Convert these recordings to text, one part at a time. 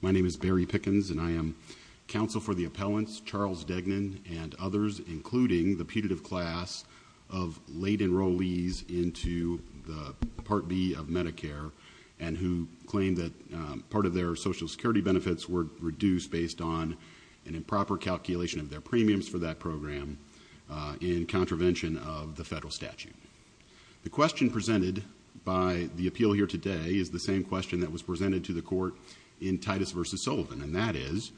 My name is Barry Pickens and I am counsel for the appellants Charles Degnan and others, including the putative class of late enrollees into the Part B of Medicare and who claim that part of their social security benefits were reduced based on an improper calculation of their premiums for that program in contravention of the federal statute. The question presented by the appeal here today is the same question that was presented to the court in Titus v. Sullivan and that is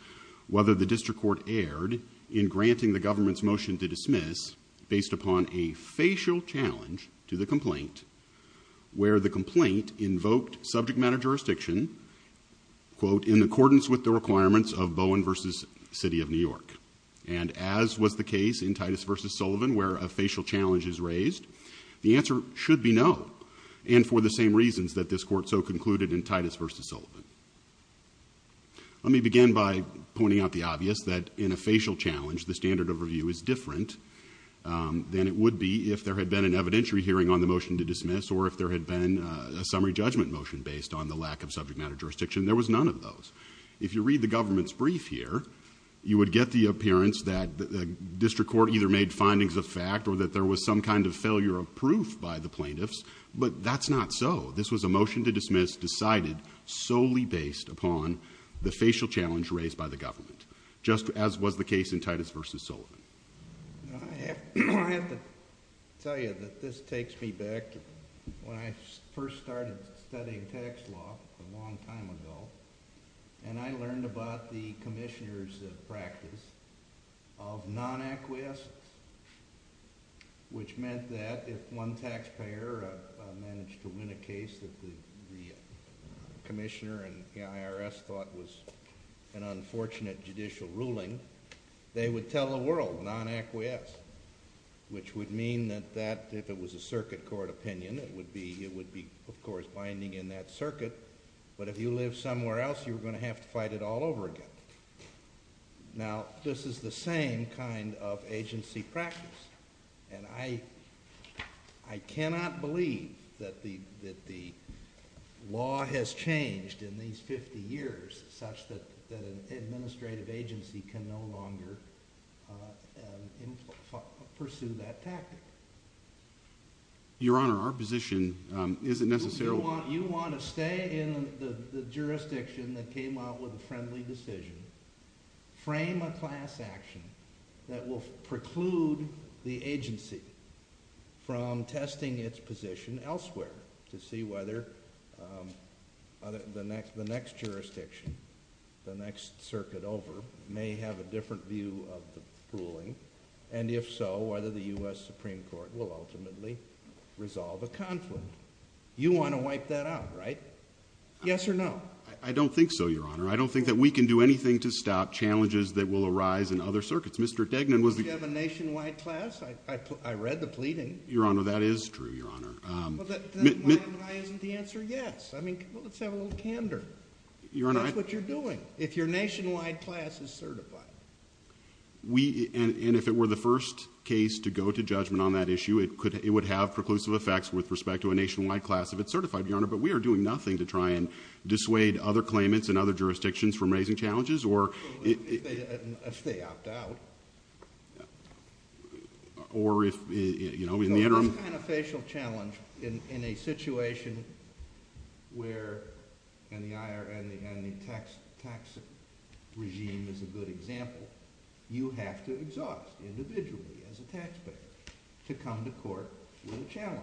whether the district court erred in granting the government's motion to dismiss based upon a facial challenge to the complaint where the complaint invoked subject matter jurisdiction, quote, in accordance with the requirements of Bowen v. City of New York. And as was the case in Titus v. Sullivan where a facial challenge is raised, the answer should be no and for the same reasons that this court so concluded in Titus v. Sullivan. Let me begin by pointing out the obvious that in a facial challenge the standard of review is different than it would be if there had been an evidentiary hearing on the motion to dismiss or if there had been a summary judgment motion based on the lack of subject matter jurisdiction. There was none of those. If you read the government's brief here, you would get the appearance that the district court either made findings of fact or that there was some kind of failure of proof by the plaintiffs, but that's not so. This was a motion to dismiss decided solely based upon the facial challenge raised by the government, just as was the case in Titus v. Sullivan. I have to tell you that this takes me back when I first started studying tax law a long time ago and I learned about the commissioner's practice of non-acquiescence, which meant that if one taxpayer managed to win a case that the commissioner and the IRS thought was an unfortunate judicial ruling, they would tell the world non-acquiescence, which would mean that if it was a circuit court opinion, it would be, of course, binding in that circuit, but if you live somewhere else, you're going to have to fight it all over again. Now, this is the same kind of agency practice. And I cannot believe that the law has changed in these 50 years such that an administrative agency can no longer pursue that tactic. Your Honor, our position isn't necessarily... You want to stay in the jurisdiction that came out with a friendly decision, frame a class action that will preclude the agency from testing its position elsewhere to see whether the next jurisdiction, the next circuit over, may have a different view of the ruling, and if so, whether the U.S. Supreme Court will ultimately resolve a conflict. You want to wipe that out, right? Yes or no? I don't think so, Your Honor. I don't think that we can do anything to stop challenges that will arise in other circuits. Mr. Degnan was the... You have a nationwide class? I read the pleading. Your Honor, that is true, Your Honor. Well, then why isn't the answer yes? I mean, let's have a little candor. Your Honor, I... That's what you're doing. If your nationwide class is certified. We, and if it were the first case to go to judgment on that issue, it would have preclusive effects with respect to a nationwide class if it's certified, Your Honor, but we are doing nothing to try and dissuade other claimants in other jurisdictions from raising challenges or... If they opt out. Or if, you know, in the interim... So this kind of facial challenge in a situation where, and the tax regime is a good example, you have to exhaust individually as a taxpayer to come to court with a challenge,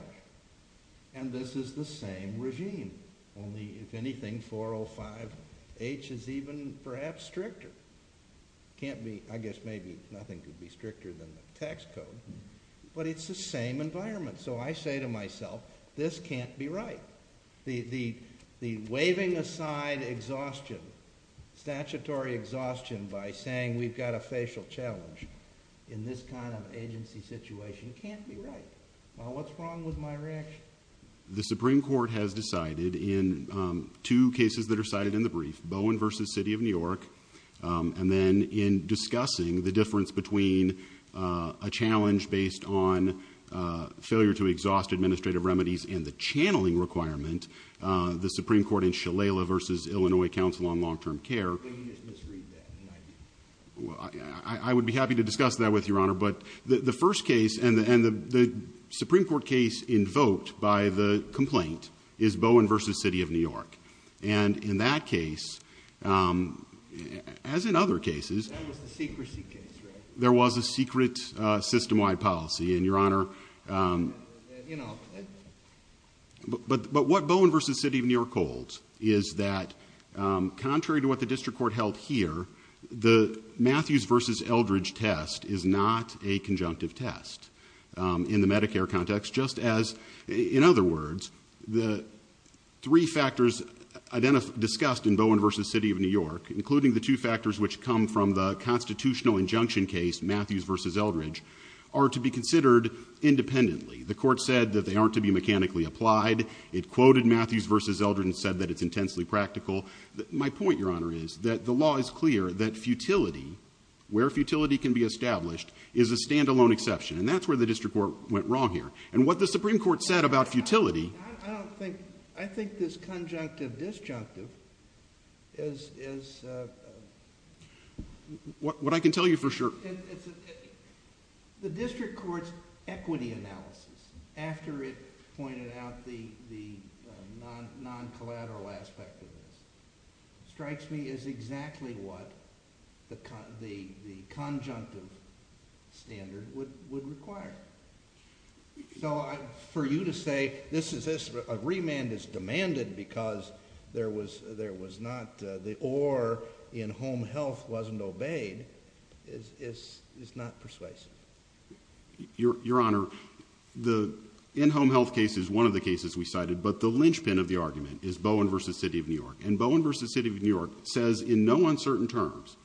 and this is the same regime. Only, if anything, 405H is even perhaps stricter. Can't be... I guess maybe nothing could be stricter than the tax code, but it's the same environment. So I say to myself, this can't be right. The waving aside exhaustion, statutory exhaustion by saying we've got a facial challenge in this kind of agency situation can't be right. Well, what's wrong with my reaction? The Supreme Court has decided in two cases that are cited in the brief, Bowen v. City of New York, and then in discussing the difference between a challenge based on failure to exhaust administrative remedies and the channeling requirement, the Supreme Court in Shalala v. Illinois Council on Long-Term Care... But you just misread that, and I... I would be happy to discuss that with you, Your Honor, but the first case and the Supreme Court case invoked by the complaint is Bowen v. City of New York, and in that case, as in other cases... That was the secrecy case, right? There was a secret system-wide policy, and, Your Honor, but what Bowen v. City of New York holds is that contrary to what the district court held here, the Matthews v. Eldridge test is not a conjunctive test in the Medicare context, just as, in other words, the three factors discussed in Bowen v. City of New York, including the two factors which come from the constitutional injunction case, Matthews v. Eldridge, are to be considered independently. The court said that they aren't to be mechanically applied. It quoted Matthews v. Eldridge and said that it's intensely practical. My point, Your Honor, is that the law is clear that futility, where futility can be established, is a standalone exception, and that's where the district court went wrong here. And what the Supreme Court said about futility... I think this conjunctive-disjunctive is... What I can tell you for sure... The district court's equity analysis, after it pointed out the non-collateral aspect of this, strikes me as exactly what the conjunctive standard would require. So, for you to say, this is this, a remand is demanded because there was not... Where in-home health wasn't obeyed is not persuasive. Your Honor, the in-home health case is one of the cases we cited, but the linchpin of the argument is Bowen v. City of New York. And Bowen v. City of New York says in no uncertain terms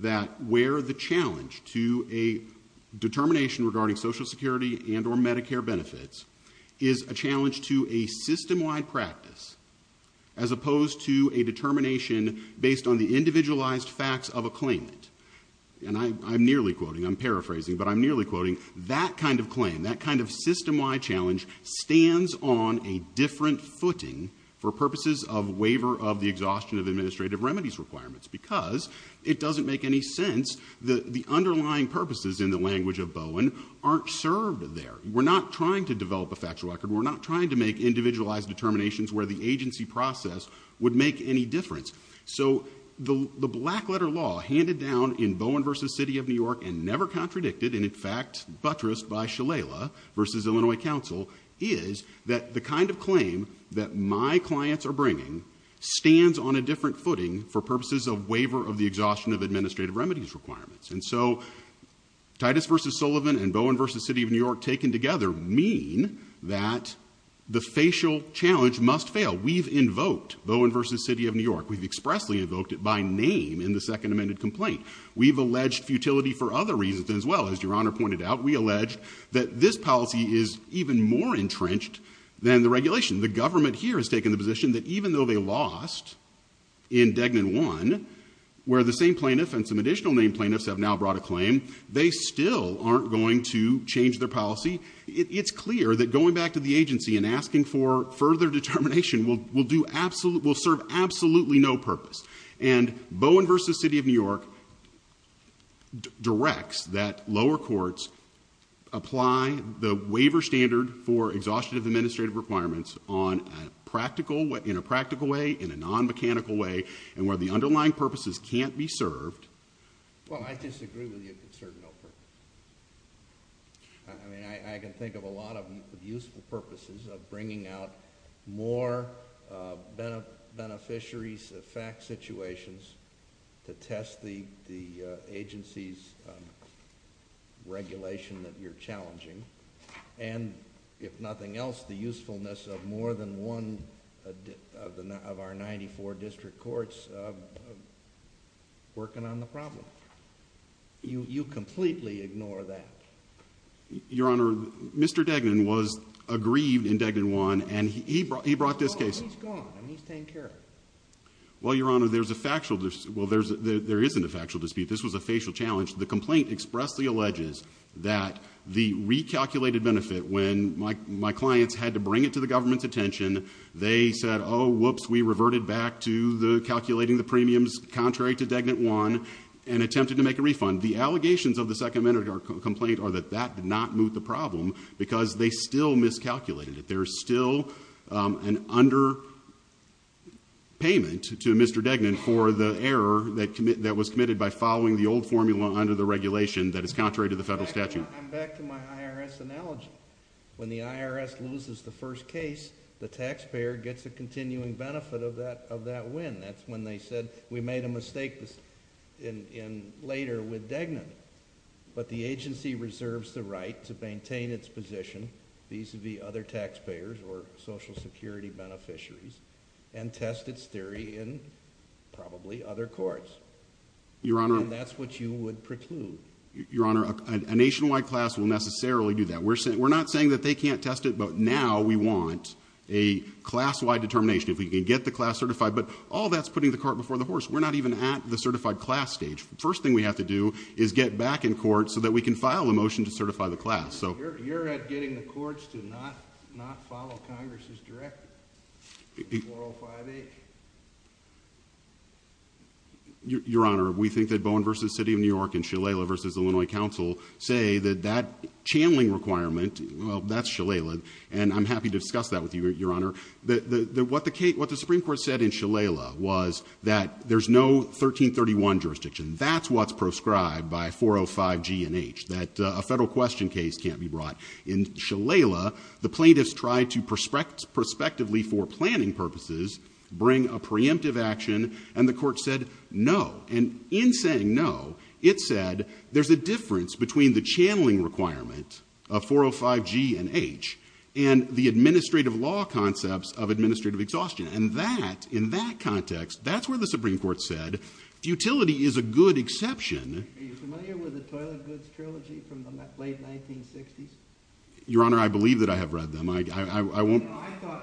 that where the challenge to a determination regarding Social Security and or Medicare benefits is a challenge to a system-wide practice, as opposed to a determination based on the individualized facts of a claimant. And I'm nearly quoting, I'm paraphrasing, but I'm nearly quoting. That kind of claim, that kind of system-wide challenge stands on a different footing for purposes of waiver of the exhaustion of administrative remedies requirements, because it doesn't make any sense that the underlying purposes in the language of Bowen aren't served there. We're not trying to develop a factual record. We're not trying to make individualized determinations where the agency process would make any difference. So the black letter law handed down in Bowen v. City of New York and never contradicted, and in fact buttressed by Shalala v. Illinois Council, is that the kind of claim that my clients are bringing stands on a different footing for purposes of waiver of the exhaustion of administrative remedies requirements. And so Titus v. Sullivan and Bowen v. City of New York taken together mean that the facial challenge must fail. We've invoked Bowen v. City of New York. We've expressly invoked it by name in the second amended complaint. We've alleged futility for other reasons as well. As Your Honor pointed out, we allege that this policy is even more entrenched than the regulation. The government here has taken the position that even though they lost in Degnan 1, where the same plaintiff and some additional named plaintiffs have now brought a claim, they still aren't going to change their policy. It's clear that going back to the agency and asking for further determination will serve absolutely no purpose. And Bowen v. City of New York directs that lower courts apply the waiver standard for exhaustive administrative requirements in a practical way, in a non-mechanical way, and where the underlying purposes can't be served. Well, I disagree with you, it serves no purpose. I mean, I can think of a lot of useful purposes of bringing out more beneficiaries of fact situations to test the agency's regulation that you're challenging, and if nothing else, the usefulness of more than one of our 94 district courts working on the problem, you completely ignore that. Your Honor, Mr. Degnan was aggrieved in Degnan 1, and he brought this case. He's gone, and he's taken care of it. Well, Your Honor, there's a factual, well, there isn't a factual dispute. This was a facial challenge. The complaint expressly alleges that the recalculated benefit, when my clients had to bring it to the government's attention, they said, whoops, we reverted back to calculating the premiums contrary to Degnan 1, and attempted to make a refund. The allegations of the second minute complaint are that that did not move the problem, because they still miscalculated it. There's still an under payment to Mr. Degnan for the error that was committed by following the old formula under the regulation that is contrary to the federal statute. I'm back to my IRS analogy. When the IRS loses the first case, the taxpayer gets a continuing benefit of that win. That's when they said, we made a mistake later with Degnan. But the agency reserves the right to maintain its position vis-a-vis other taxpayers or social security beneficiaries, and test its theory in probably other courts. And that's what you would preclude. Your Honor, a nationwide class will necessarily do that. We're not saying that they can't test it, but now we want a class-wide determination. If we can get the class certified, but all that's putting the cart before the horse. We're not even at the certified class stage. First thing we have to do is get back in court so that we can file a motion to certify the class, so. You're at getting the courts to not follow Congress's directive, 405-H. Your Honor, we think that Bowen versus City of New York and Shalala versus Illinois Council say that that channeling requirement, well, that's Shalala. And I'm happy to discuss that with you, Your Honor. What the Supreme Court said in Shalala was that there's no 1331 jurisdiction. That's what's proscribed by 405-G and H, that a federal question case can't be brought. In Shalala, the plaintiffs tried to prospectively for planning purposes bring a preemptive action, and the court said no. And in saying no, it said there's a difference between the channeling requirement of 405-G and H and the administrative law concepts of administrative exhaustion. And that, in that context, that's where the Supreme Court said, futility is a good exception. Are you familiar with the Toilet Goods Trilogy from the late 1960s? Your Honor, I believe that I have read them. I won't- No,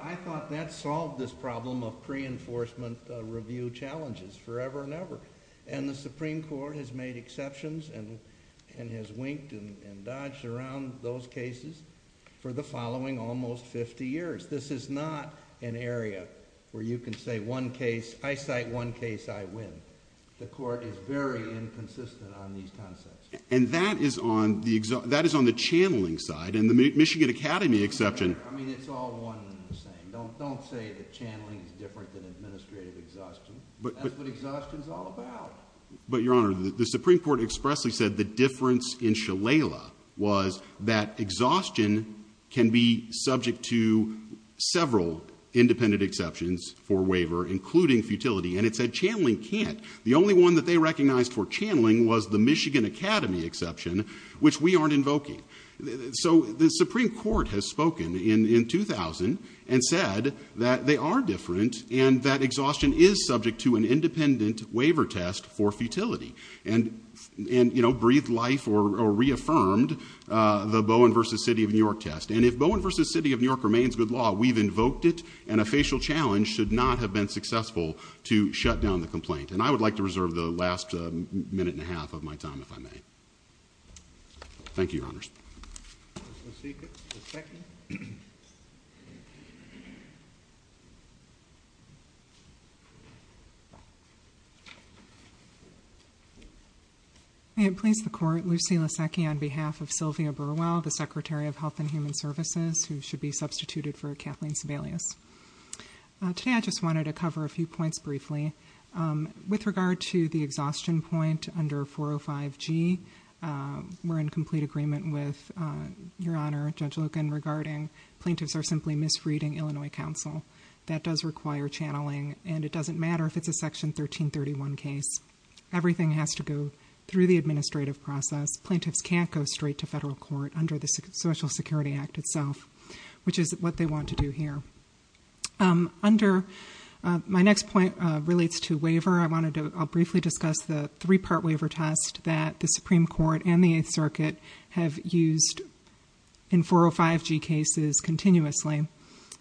I thought that solved this problem of pre-enforcement review challenges forever and ever. And the Supreme Court has made exceptions and has winked and dodged around those cases for the following almost 50 years. This is not an area where you can say one case, I cite one case, I win. The court is very inconsistent on these concepts. And that is on the channeling side, and the Michigan Academy exception- I mean, it's all one and the same. Don't say the channeling is different than administrative exhaustion. That's what exhaustion's all about. But Your Honor, the Supreme Court expressly said the difference in Shalala was that several independent exceptions for waiver, including futility, and it said channeling can't. The only one that they recognized for channeling was the Michigan Academy exception, which we aren't invoking. So the Supreme Court has spoken in 2000 and said that they are different and that exhaustion is subject to an independent waiver test for futility. And breathed life or reaffirmed the Bowen versus City of New York test. And if Bowen versus City of New York remains good law, we've invoked it, and a facial challenge should not have been successful to shut down the complaint. And I would like to reserve the last minute and a half of my time, if I may. Thank you, Your Honors. Ms. Laseki. Ms. Laseki. May it please the court, Lucy Laseki on behalf of Sylvia Burwell, the Secretary of Health and Human Services, who should be substituted for Kathleen Sebelius. Today, I just wanted to cover a few points briefly. With regard to the exhaustion point under 405G, we're in complete agreement with Your Honor, Judge Logan, regarding plaintiffs are simply misreading Illinois Council. That does require channeling, and it doesn't matter if it's a section 1331 case. Everything has to go through the administrative process. Plaintiffs can't go straight to federal court under the Social Security Act itself, which is what they want to do here. Under, my next point relates to waiver. I'll briefly discuss the three-part waiver test that the Supreme Court and the Eighth Circuit have used in 405G cases continuously.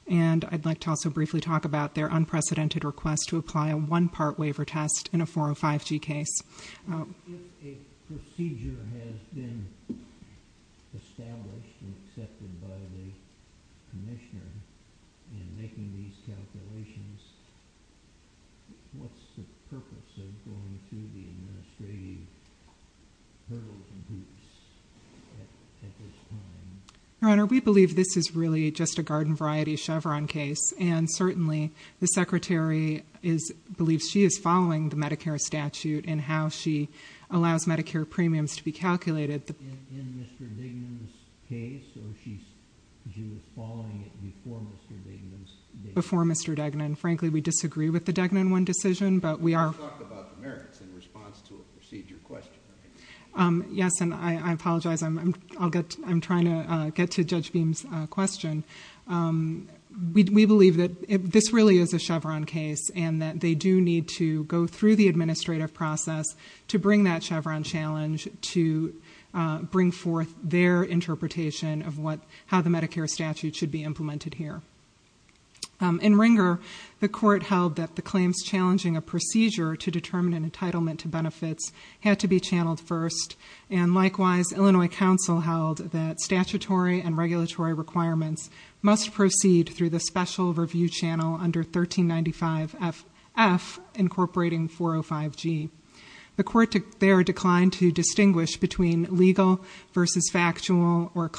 And I'd like to also briefly talk about their unprecedented request to apply a one-part waiver test in a 405G case. If a procedure has been established and accepted by the commissioner in making these calculations, what's the purpose of going through the administrative hurdles and hoops at this time? Your Honor, we believe this is really just a garden variety Chevron case. And certainly, the Secretary believes she is following the Medicare statute and how she allows Medicare premiums to be calculated. In Mr. Dignan's case, or she was following it before Mr. Dignan's case? Before Mr. Dignan. Frankly, we disagree with the Dignan one decision, but we are- You talked about the merits in response to a procedure question, right? Yes, and I apologize, I'm trying to get to Judge Beam's question. We believe that this really is a Chevron case, and that they do need to go through the administrative process to bring that Chevron challenge to bring forth their interpretation of what, how the Medicare statute should be implemented here. In Ringer, the court held that the claims challenging a procedure to determine an entitlement to benefits had to be channeled first. And likewise, Illinois Council held that statutory and regulatory requirements must proceed through the special review channel under 1395 F incorporating 405 G. The court there declined to distinguish between legal versus factual or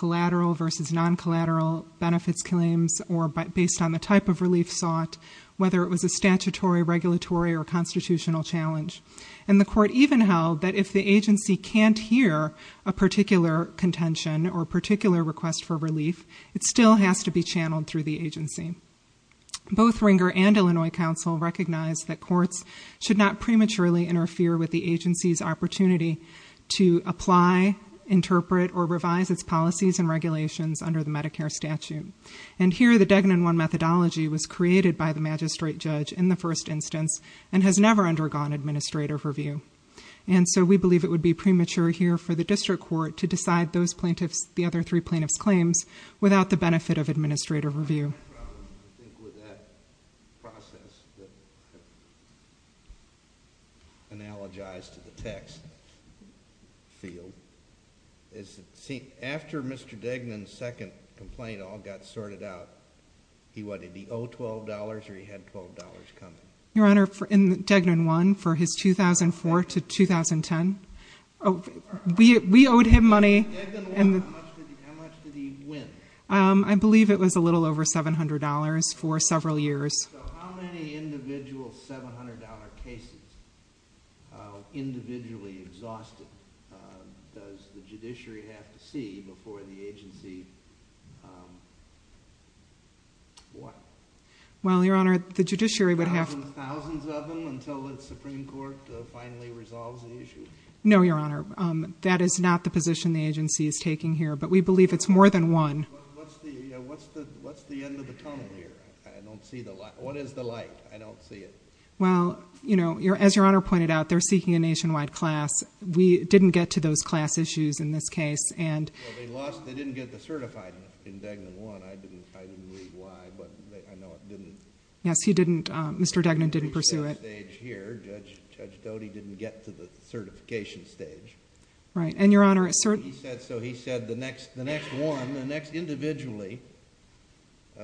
whether it was a statutory, regulatory, or constitutional challenge. And the court even held that if the agency can't hear a particular contention or particular request for relief, it still has to be channeled through the agency. Both Ringer and Illinois Council recognize that courts should not prematurely interfere with the agency's opportunity to apply, interpret, or revise its policies and regulations under the Medicare statute. And here, the Degnan I methodology was created by the magistrate judge in the first instance and has never undergone administrative review. And so we believe it would be premature here for the district court to decide those plaintiffs, the other three plaintiffs' claims, without the benefit of administrative review. I think with that process that analogized to the text field. Is it, see, after Mr. Degnan's second complaint all got sorted out, he what, did he owe $12 or he had $12 coming? Your Honor, in Degnan I, for his 2004 to 2010, we owed him money and- In Degnan I, how much did he win? I believe it was a little over $700 for several years. So how many individual $700 cases, individually exhausted, does the judiciary have to see before the agency, what? Well, Your Honor, the judiciary would have- Thousands of them until the Supreme Court finally resolves the issue? No, Your Honor. That is not the position the agency is taking here, but we believe it's more than one. What's the end of the tunnel here? I don't see the light. What is the light? I don't see it. Well, as Your Honor pointed out, they're seeking a nationwide class. We didn't get to those class issues in this case, and- Well, they lost, they didn't get the certified in Degnan I. I didn't read why, but I know it didn't- Yes, he didn't, Mr. Degnan didn't pursue it. Stage here, Judge Doty didn't get to the certification stage. Right, and Your Honor, a certain- He said so, he said the next one, the next individually,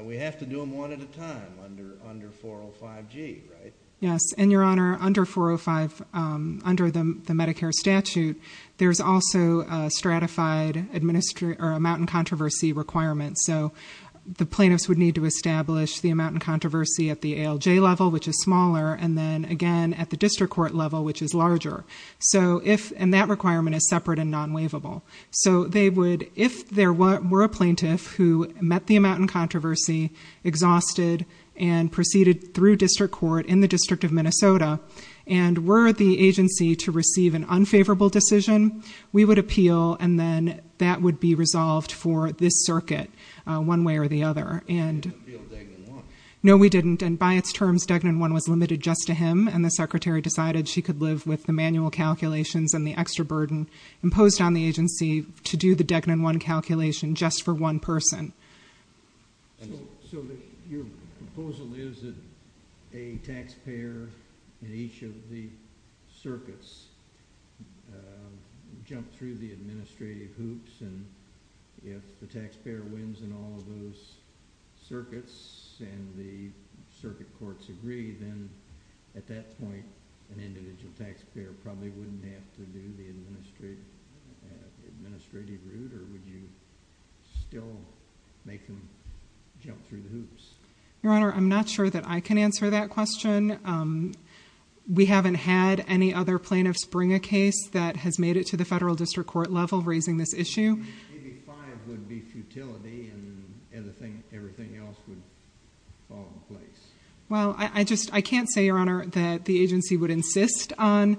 we have to do them one at a time under 405G, right? Yes, and Your Honor, under 405, under the Medicare statute, there's also a stratified amount and controversy requirement. So the plaintiffs would need to establish the amount and controversy at the ALJ level, which is smaller, and then again at the district court level, which is larger. So if, and that requirement is separate and non-waivable. So they would, if there were a plaintiff who met the amount and controversy, exhausted, and proceeded through district court in the District of Minnesota, and were at the agency to receive an unfavorable decision, we would appeal, and then that would be resolved for this circuit, one way or the other, and- You didn't appeal Degnan I. No, we didn't, and by its terms, Degnan I was limited just to him, and the secretary decided she could live with the manual calculations and the extra burden imposed on the agency to do the Degnan I calculation just for one person. So your proposal is that a taxpayer in each of the circuits jump through the administrative hoops, and if the taxpayer wins in all of those circuits, and the circuit courts agree, then at that point an individual taxpayer probably wouldn't have to do the administrative route, or would you still make them jump through the hoops? Your Honor, I'm not sure that I can answer that question. We haven't had any other plaintiff spring a case that has made it to the federal district court level raising this issue. Maybe five would be futility, and everything else would fall in place. Well, I just, I can't say, Your Honor, that the agency would insist on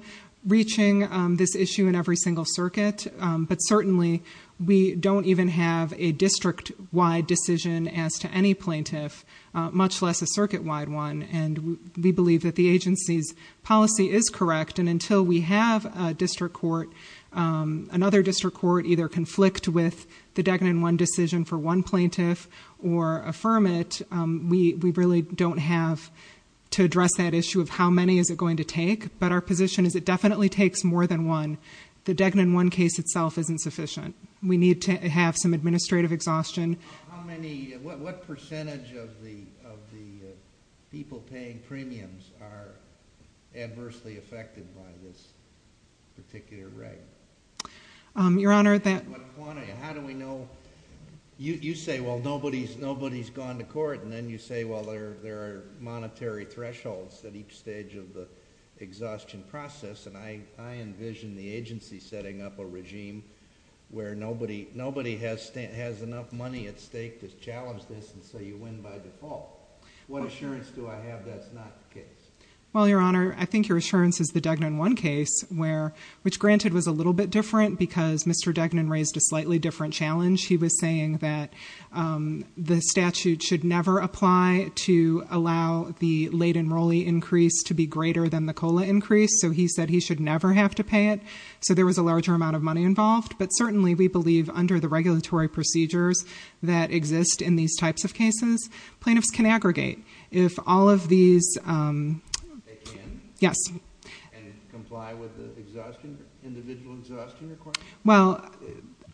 reaching this issue in every single circuit, but certainly we don't even have a district-wide decision as to any plaintiff, much less a circuit-wide one, and we believe that the agency's policy is correct, and until we have a district court, another district court either conflict with the Degnan I decision for one plaintiff or affirm it, we really don't have to address that issue of how many is it going to take, but our position is it definitely takes more than one. The Degnan I case itself isn't sufficient. We need to have some administrative exhaustion. How many, what percentage of the people paying premiums are adversely affected by this particular reg? Your Honor, that... What quantity? How do we know? You say, well, nobody's gone to court, and then you say, well, there are monetary thresholds at each stage of the exhaustion process, and I envision the agency setting up a regime where nobody has enough money at stake to challenge this, and so you win by default. What assurance do I have that's not the case? Well, Your Honor, I think your assurance is the Degnan I case, which granted was a little bit different because Mr. Degnan raised a slightly different challenge. He was saying that the statute should never apply to allow the late enrollee increase to be greater than the COLA increase, so he said he should never have to pay it, so there was a larger amount of money involved, but certainly we believe under the regulatory procedures that exist in these types of cases, plaintiffs can aggregate. If all of these... They can? Yes. And comply with the individual exhaustion requirement? Well,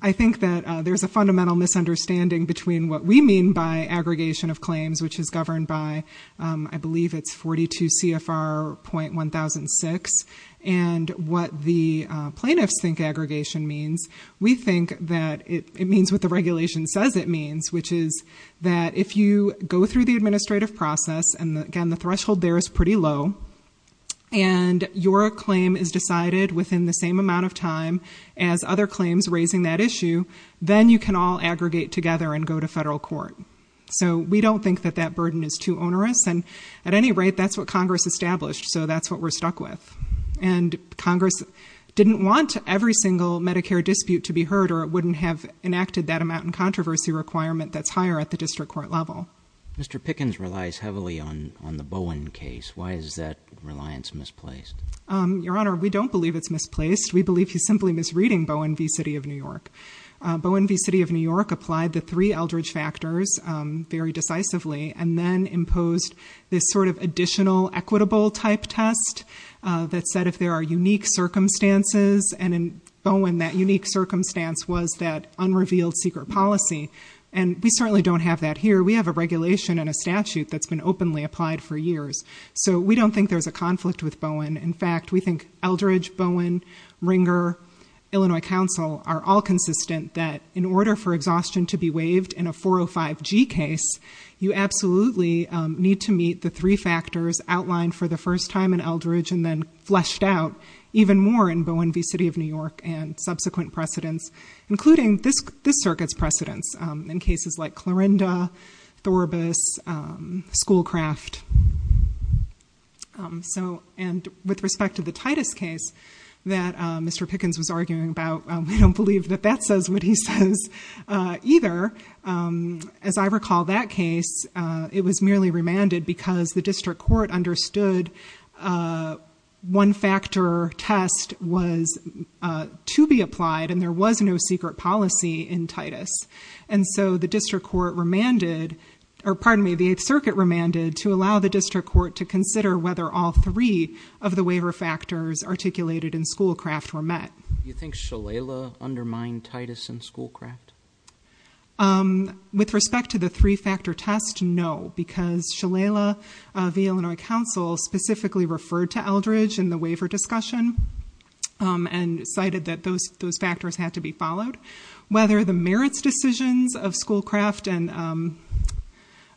I think that there's a fundamental misunderstanding between what we mean by aggregation of claims, which is governed by, I believe it's 42 CFR.1006, and what the plaintiffs think aggregation means. We think that it means what the regulation says it means, which is that if you go through the administrative process, and again, the threshold there is pretty low, and your claim is decided within the same amount of time as other claims raising that issue, then you can all aggregate together and go to federal court. So we don't think that that burden is too onerous, and at any rate, that's what Congress established, so that's what we're stuck with. And Congress didn't want every single Medicare dispute to be heard, or it wouldn't have enacted that amount in controversy requirement that's higher at the district court level. Mr. Pickens relies heavily on the Bowen case. Why is that reliance misplaced? Your Honor, we don't believe it's misplaced. We believe he's simply misreading Bowen v. City of New York. Bowen v. City of New York applied the three Eldridge factors very decisively, and then imposed this sort of additional equitable type test that said if there are unique circumstances, and in Bowen, that unique circumstance was that unrevealed secret policy, and we certainly don't have that here. We have a regulation and a statute that's been openly applied for years, so we don't think there's a conflict with Bowen. In fact, we think Eldridge, Bowen, Ringer, Illinois Council are all consistent that in order for exhaustion to be waived in a 405G case, you absolutely need to meet the three factors outlined for the first time in Eldridge, and then fleshed out even more in Bowen v. City of New York and subsequent precedents, including this circuit's precedents in cases like Clorinda, Thoribus, Schoolcraft. So, and with respect to the Titus case that Mr. Pickens was arguing about, we don't believe that that says what he says either. As I recall that case, it was merely remanded because the district court understood one factor test was to be applied, and there was no secret policy in Titus. And so the district court remanded, or pardon me, the Eighth Circuit remanded to allow the district court to consider whether all three of the waiver factors articulated in Schoolcraft were met. You think Shalala undermined Titus and Schoolcraft? With respect to the three-factor test, no, because Shalala v. Illinois Council specifically referred to Eldridge in the waiver discussion and cited that those factors had to be followed. Whether the merits decisions of Schoolcraft and,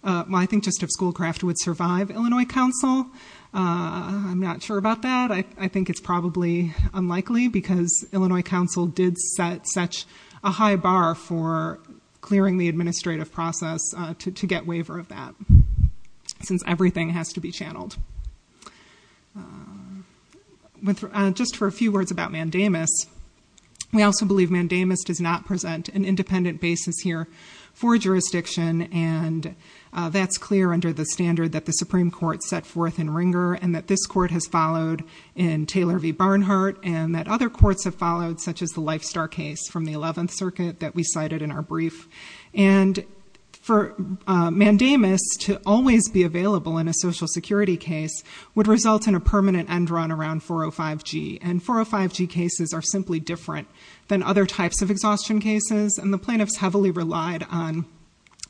well, I think just of Schoolcraft would survive Illinois Council, I'm not sure about that. I think it's probably unlikely, because Illinois Council did set such a high bar for clearing the administrative process to get waiver of that, since everything has to be channeled. Just for a few words about Mandamus, we also believe Mandamus does not present an independent basis here for jurisdiction. And that's clear under the standard that the Supreme Court set forth in Ringer and that this court has followed in Taylor v. Barnhart and that other courts have followed, such as the Lifestar case from the 11th Circuit that we cited in our brief. And for Mandamus to always be available in a Social Security case would result in a permanent end run around 405G. And 405G cases are simply different than other types of exhaustion cases. And the plaintiffs heavily relied on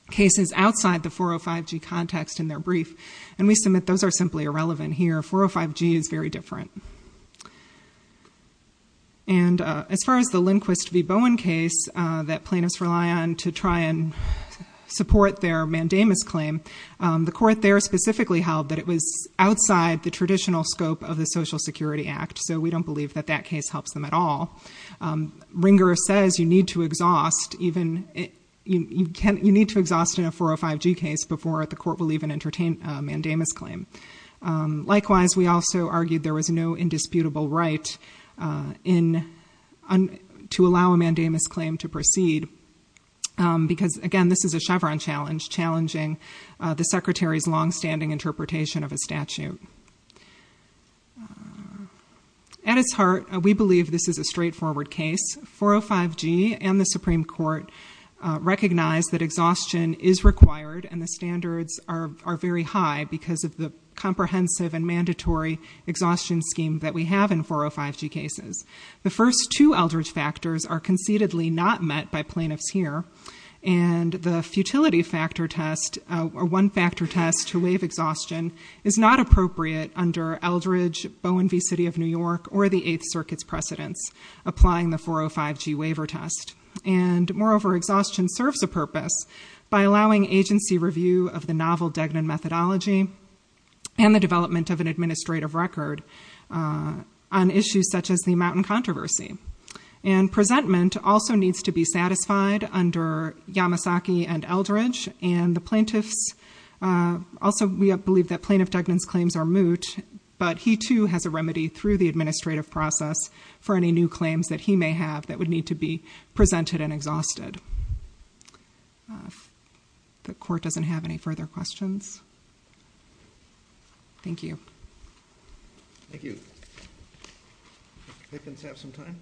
cases outside the 405G context in their brief. And we submit those are simply irrelevant here. 405G is very different. And as far as the Lindquist v. Bowen case that plaintiffs rely on to try and support their Mandamus claim, the court there specifically held that it was outside the traditional scope of the Social Security Act. So we don't believe that that case helps them at all. Ringer says you need to exhaust in a 405G case before the court will even entertain a Mandamus claim. Likewise, we also argued there was no indisputable right to allow a Mandamus claim to proceed. Because again, this is a Chevron challenge challenging the Secretary's longstanding interpretation of a statute. At its heart, we believe this is a straightforward case. 405G and the Supreme Court recognize that exhaustion is required. And the standards are very high because of the comprehensive and mandatory exhaustion scheme that we have in 405G cases. The first two Eldridge factors are concededly not met by plaintiffs here. And the futility factor test or one factor test to waive exhaustion is not appropriate under Eldridge, Bowen v. City of New York, or the Eighth Circuit's precedents applying the 405G waiver test. And moreover, exhaustion serves a purpose by allowing agency review of the novel Degnan methodology and the development of an administrative record on issues such as the Mountain Controversy. And presentment also needs to be satisfied under Yamasaki and Eldridge. And the plaintiffs, also we believe that Plaintiff Degnan's claims are moot. But he too has a remedy through the administrative process for any new claims that he may have that would need to be presented and exhausted. The court doesn't have any further questions. Thank you. Thank you. Thank you. I think we just have some time.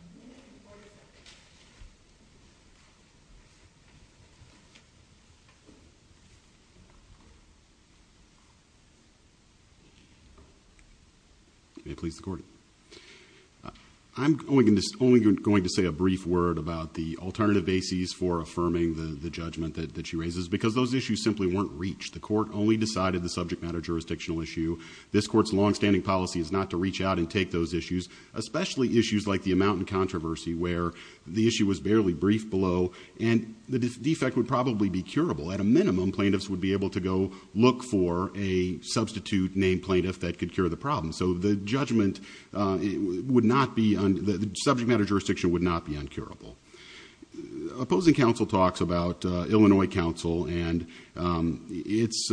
May it please the court. I'm only going to say a brief word about the alternative bases for affirming the judgment that she raises, because those issues simply weren't reached. The court only decided the subject matter jurisdictional issue. This court's longstanding policy is not to reach out and take those issues, especially issues like the Mountain Controversy, where the issue was barely briefed below. And the defect would probably be curable. At a minimum, plaintiffs would be able to go look for a substitute named plaintiff that could cure the problem. So the judgment would not be, the subject matter jurisdiction would not be uncurable. Opposing counsel talks about Illinois counsel and its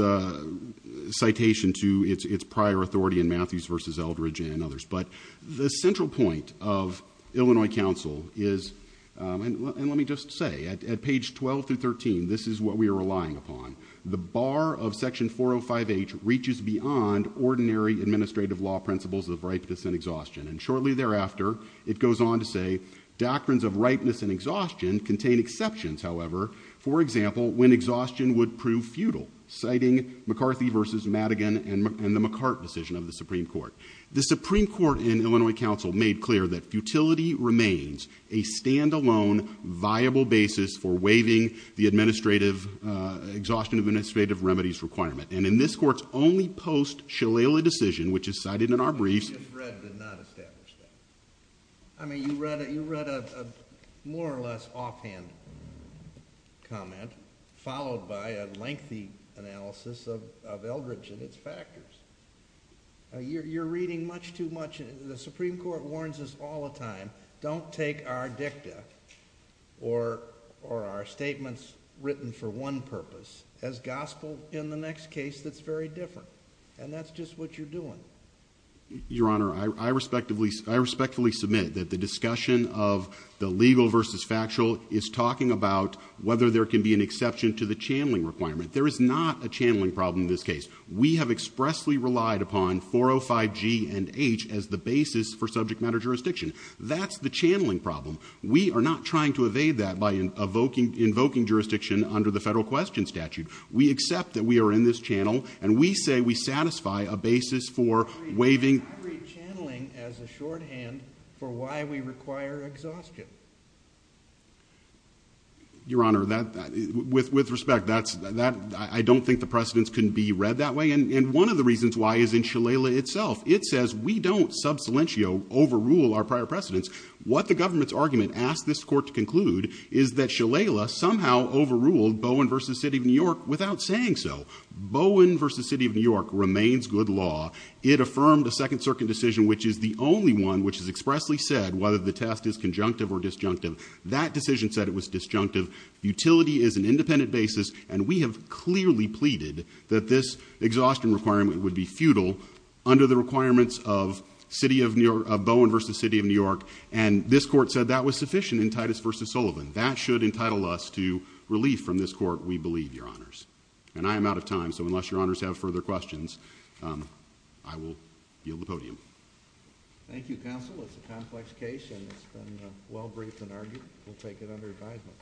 citation to its prior authority in Matthews versus Eldridge and others. But the central point of Illinois counsel is, and let me just say, at page 12 through 13, this is what we are relying upon. The bar of section 405H reaches beyond ordinary administrative law principles of ripeness and exhaustion. And shortly thereafter, it goes on to say, doctrines of ripeness and exhaustion contain exceptions, however. For example, when exhaustion would prove futile, citing McCarthy versus Madigan and the McCart decision of the Supreme Court. The Supreme Court in Illinois counsel made clear that futility remains a standalone viable basis for waiving the exhaustion of administrative remedies requirement. And in this court's only post-Shillelagh decision, which is cited in our briefs. I just read did not establish that. I mean, you read a more or less offhand comment, followed by a lengthy analysis of Eldridge and its factors. You're reading much too much. The Supreme Court warns us all the time, don't take our dicta or our statements written for one purpose as gospel in the next case that's very different. And that's just what you're doing. Your Honor, I respectfully submit that the discussion of the legal versus factual is talking about whether there can be an exception to the channeling requirement. There is not a channeling problem in this case. We have expressly relied upon 405 G and H as the basis for subject matter jurisdiction. That's the channeling problem. We are not trying to evade that by invoking jurisdiction under the federal question statute. We accept that we are in this channel, and we say we satisfy a basis for waiving. I read channeling as a shorthand for why we require exhaustion. Your Honor, with respect, I don't think the precedents can be read that way. And one of the reasons why is in Shalala itself. It says we don't sub silentio overrule our prior precedents. What the government's argument asked this court to conclude is that Shalala somehow overruled Bowen versus City of New York without saying so. Bowen versus City of New York remains good law. It affirmed a Second Circuit decision, which is the only one which has expressly said whether the test is conjunctive or disjunctive. That decision said it was disjunctive. Utility is an independent basis. And we have clearly pleaded that this exhaustion requirement would be futile under the requirements of Bowen versus City of New York. And this court said that was sufficient in Titus versus Sullivan. That should entitle us to relief from this court, we believe, Your Honors. And I am out of time, so unless Your Honors have further questions, I will yield the podium. Thank you, counsel. It's a complex case, and it's been well-briefed and argued. We'll take it under advisement.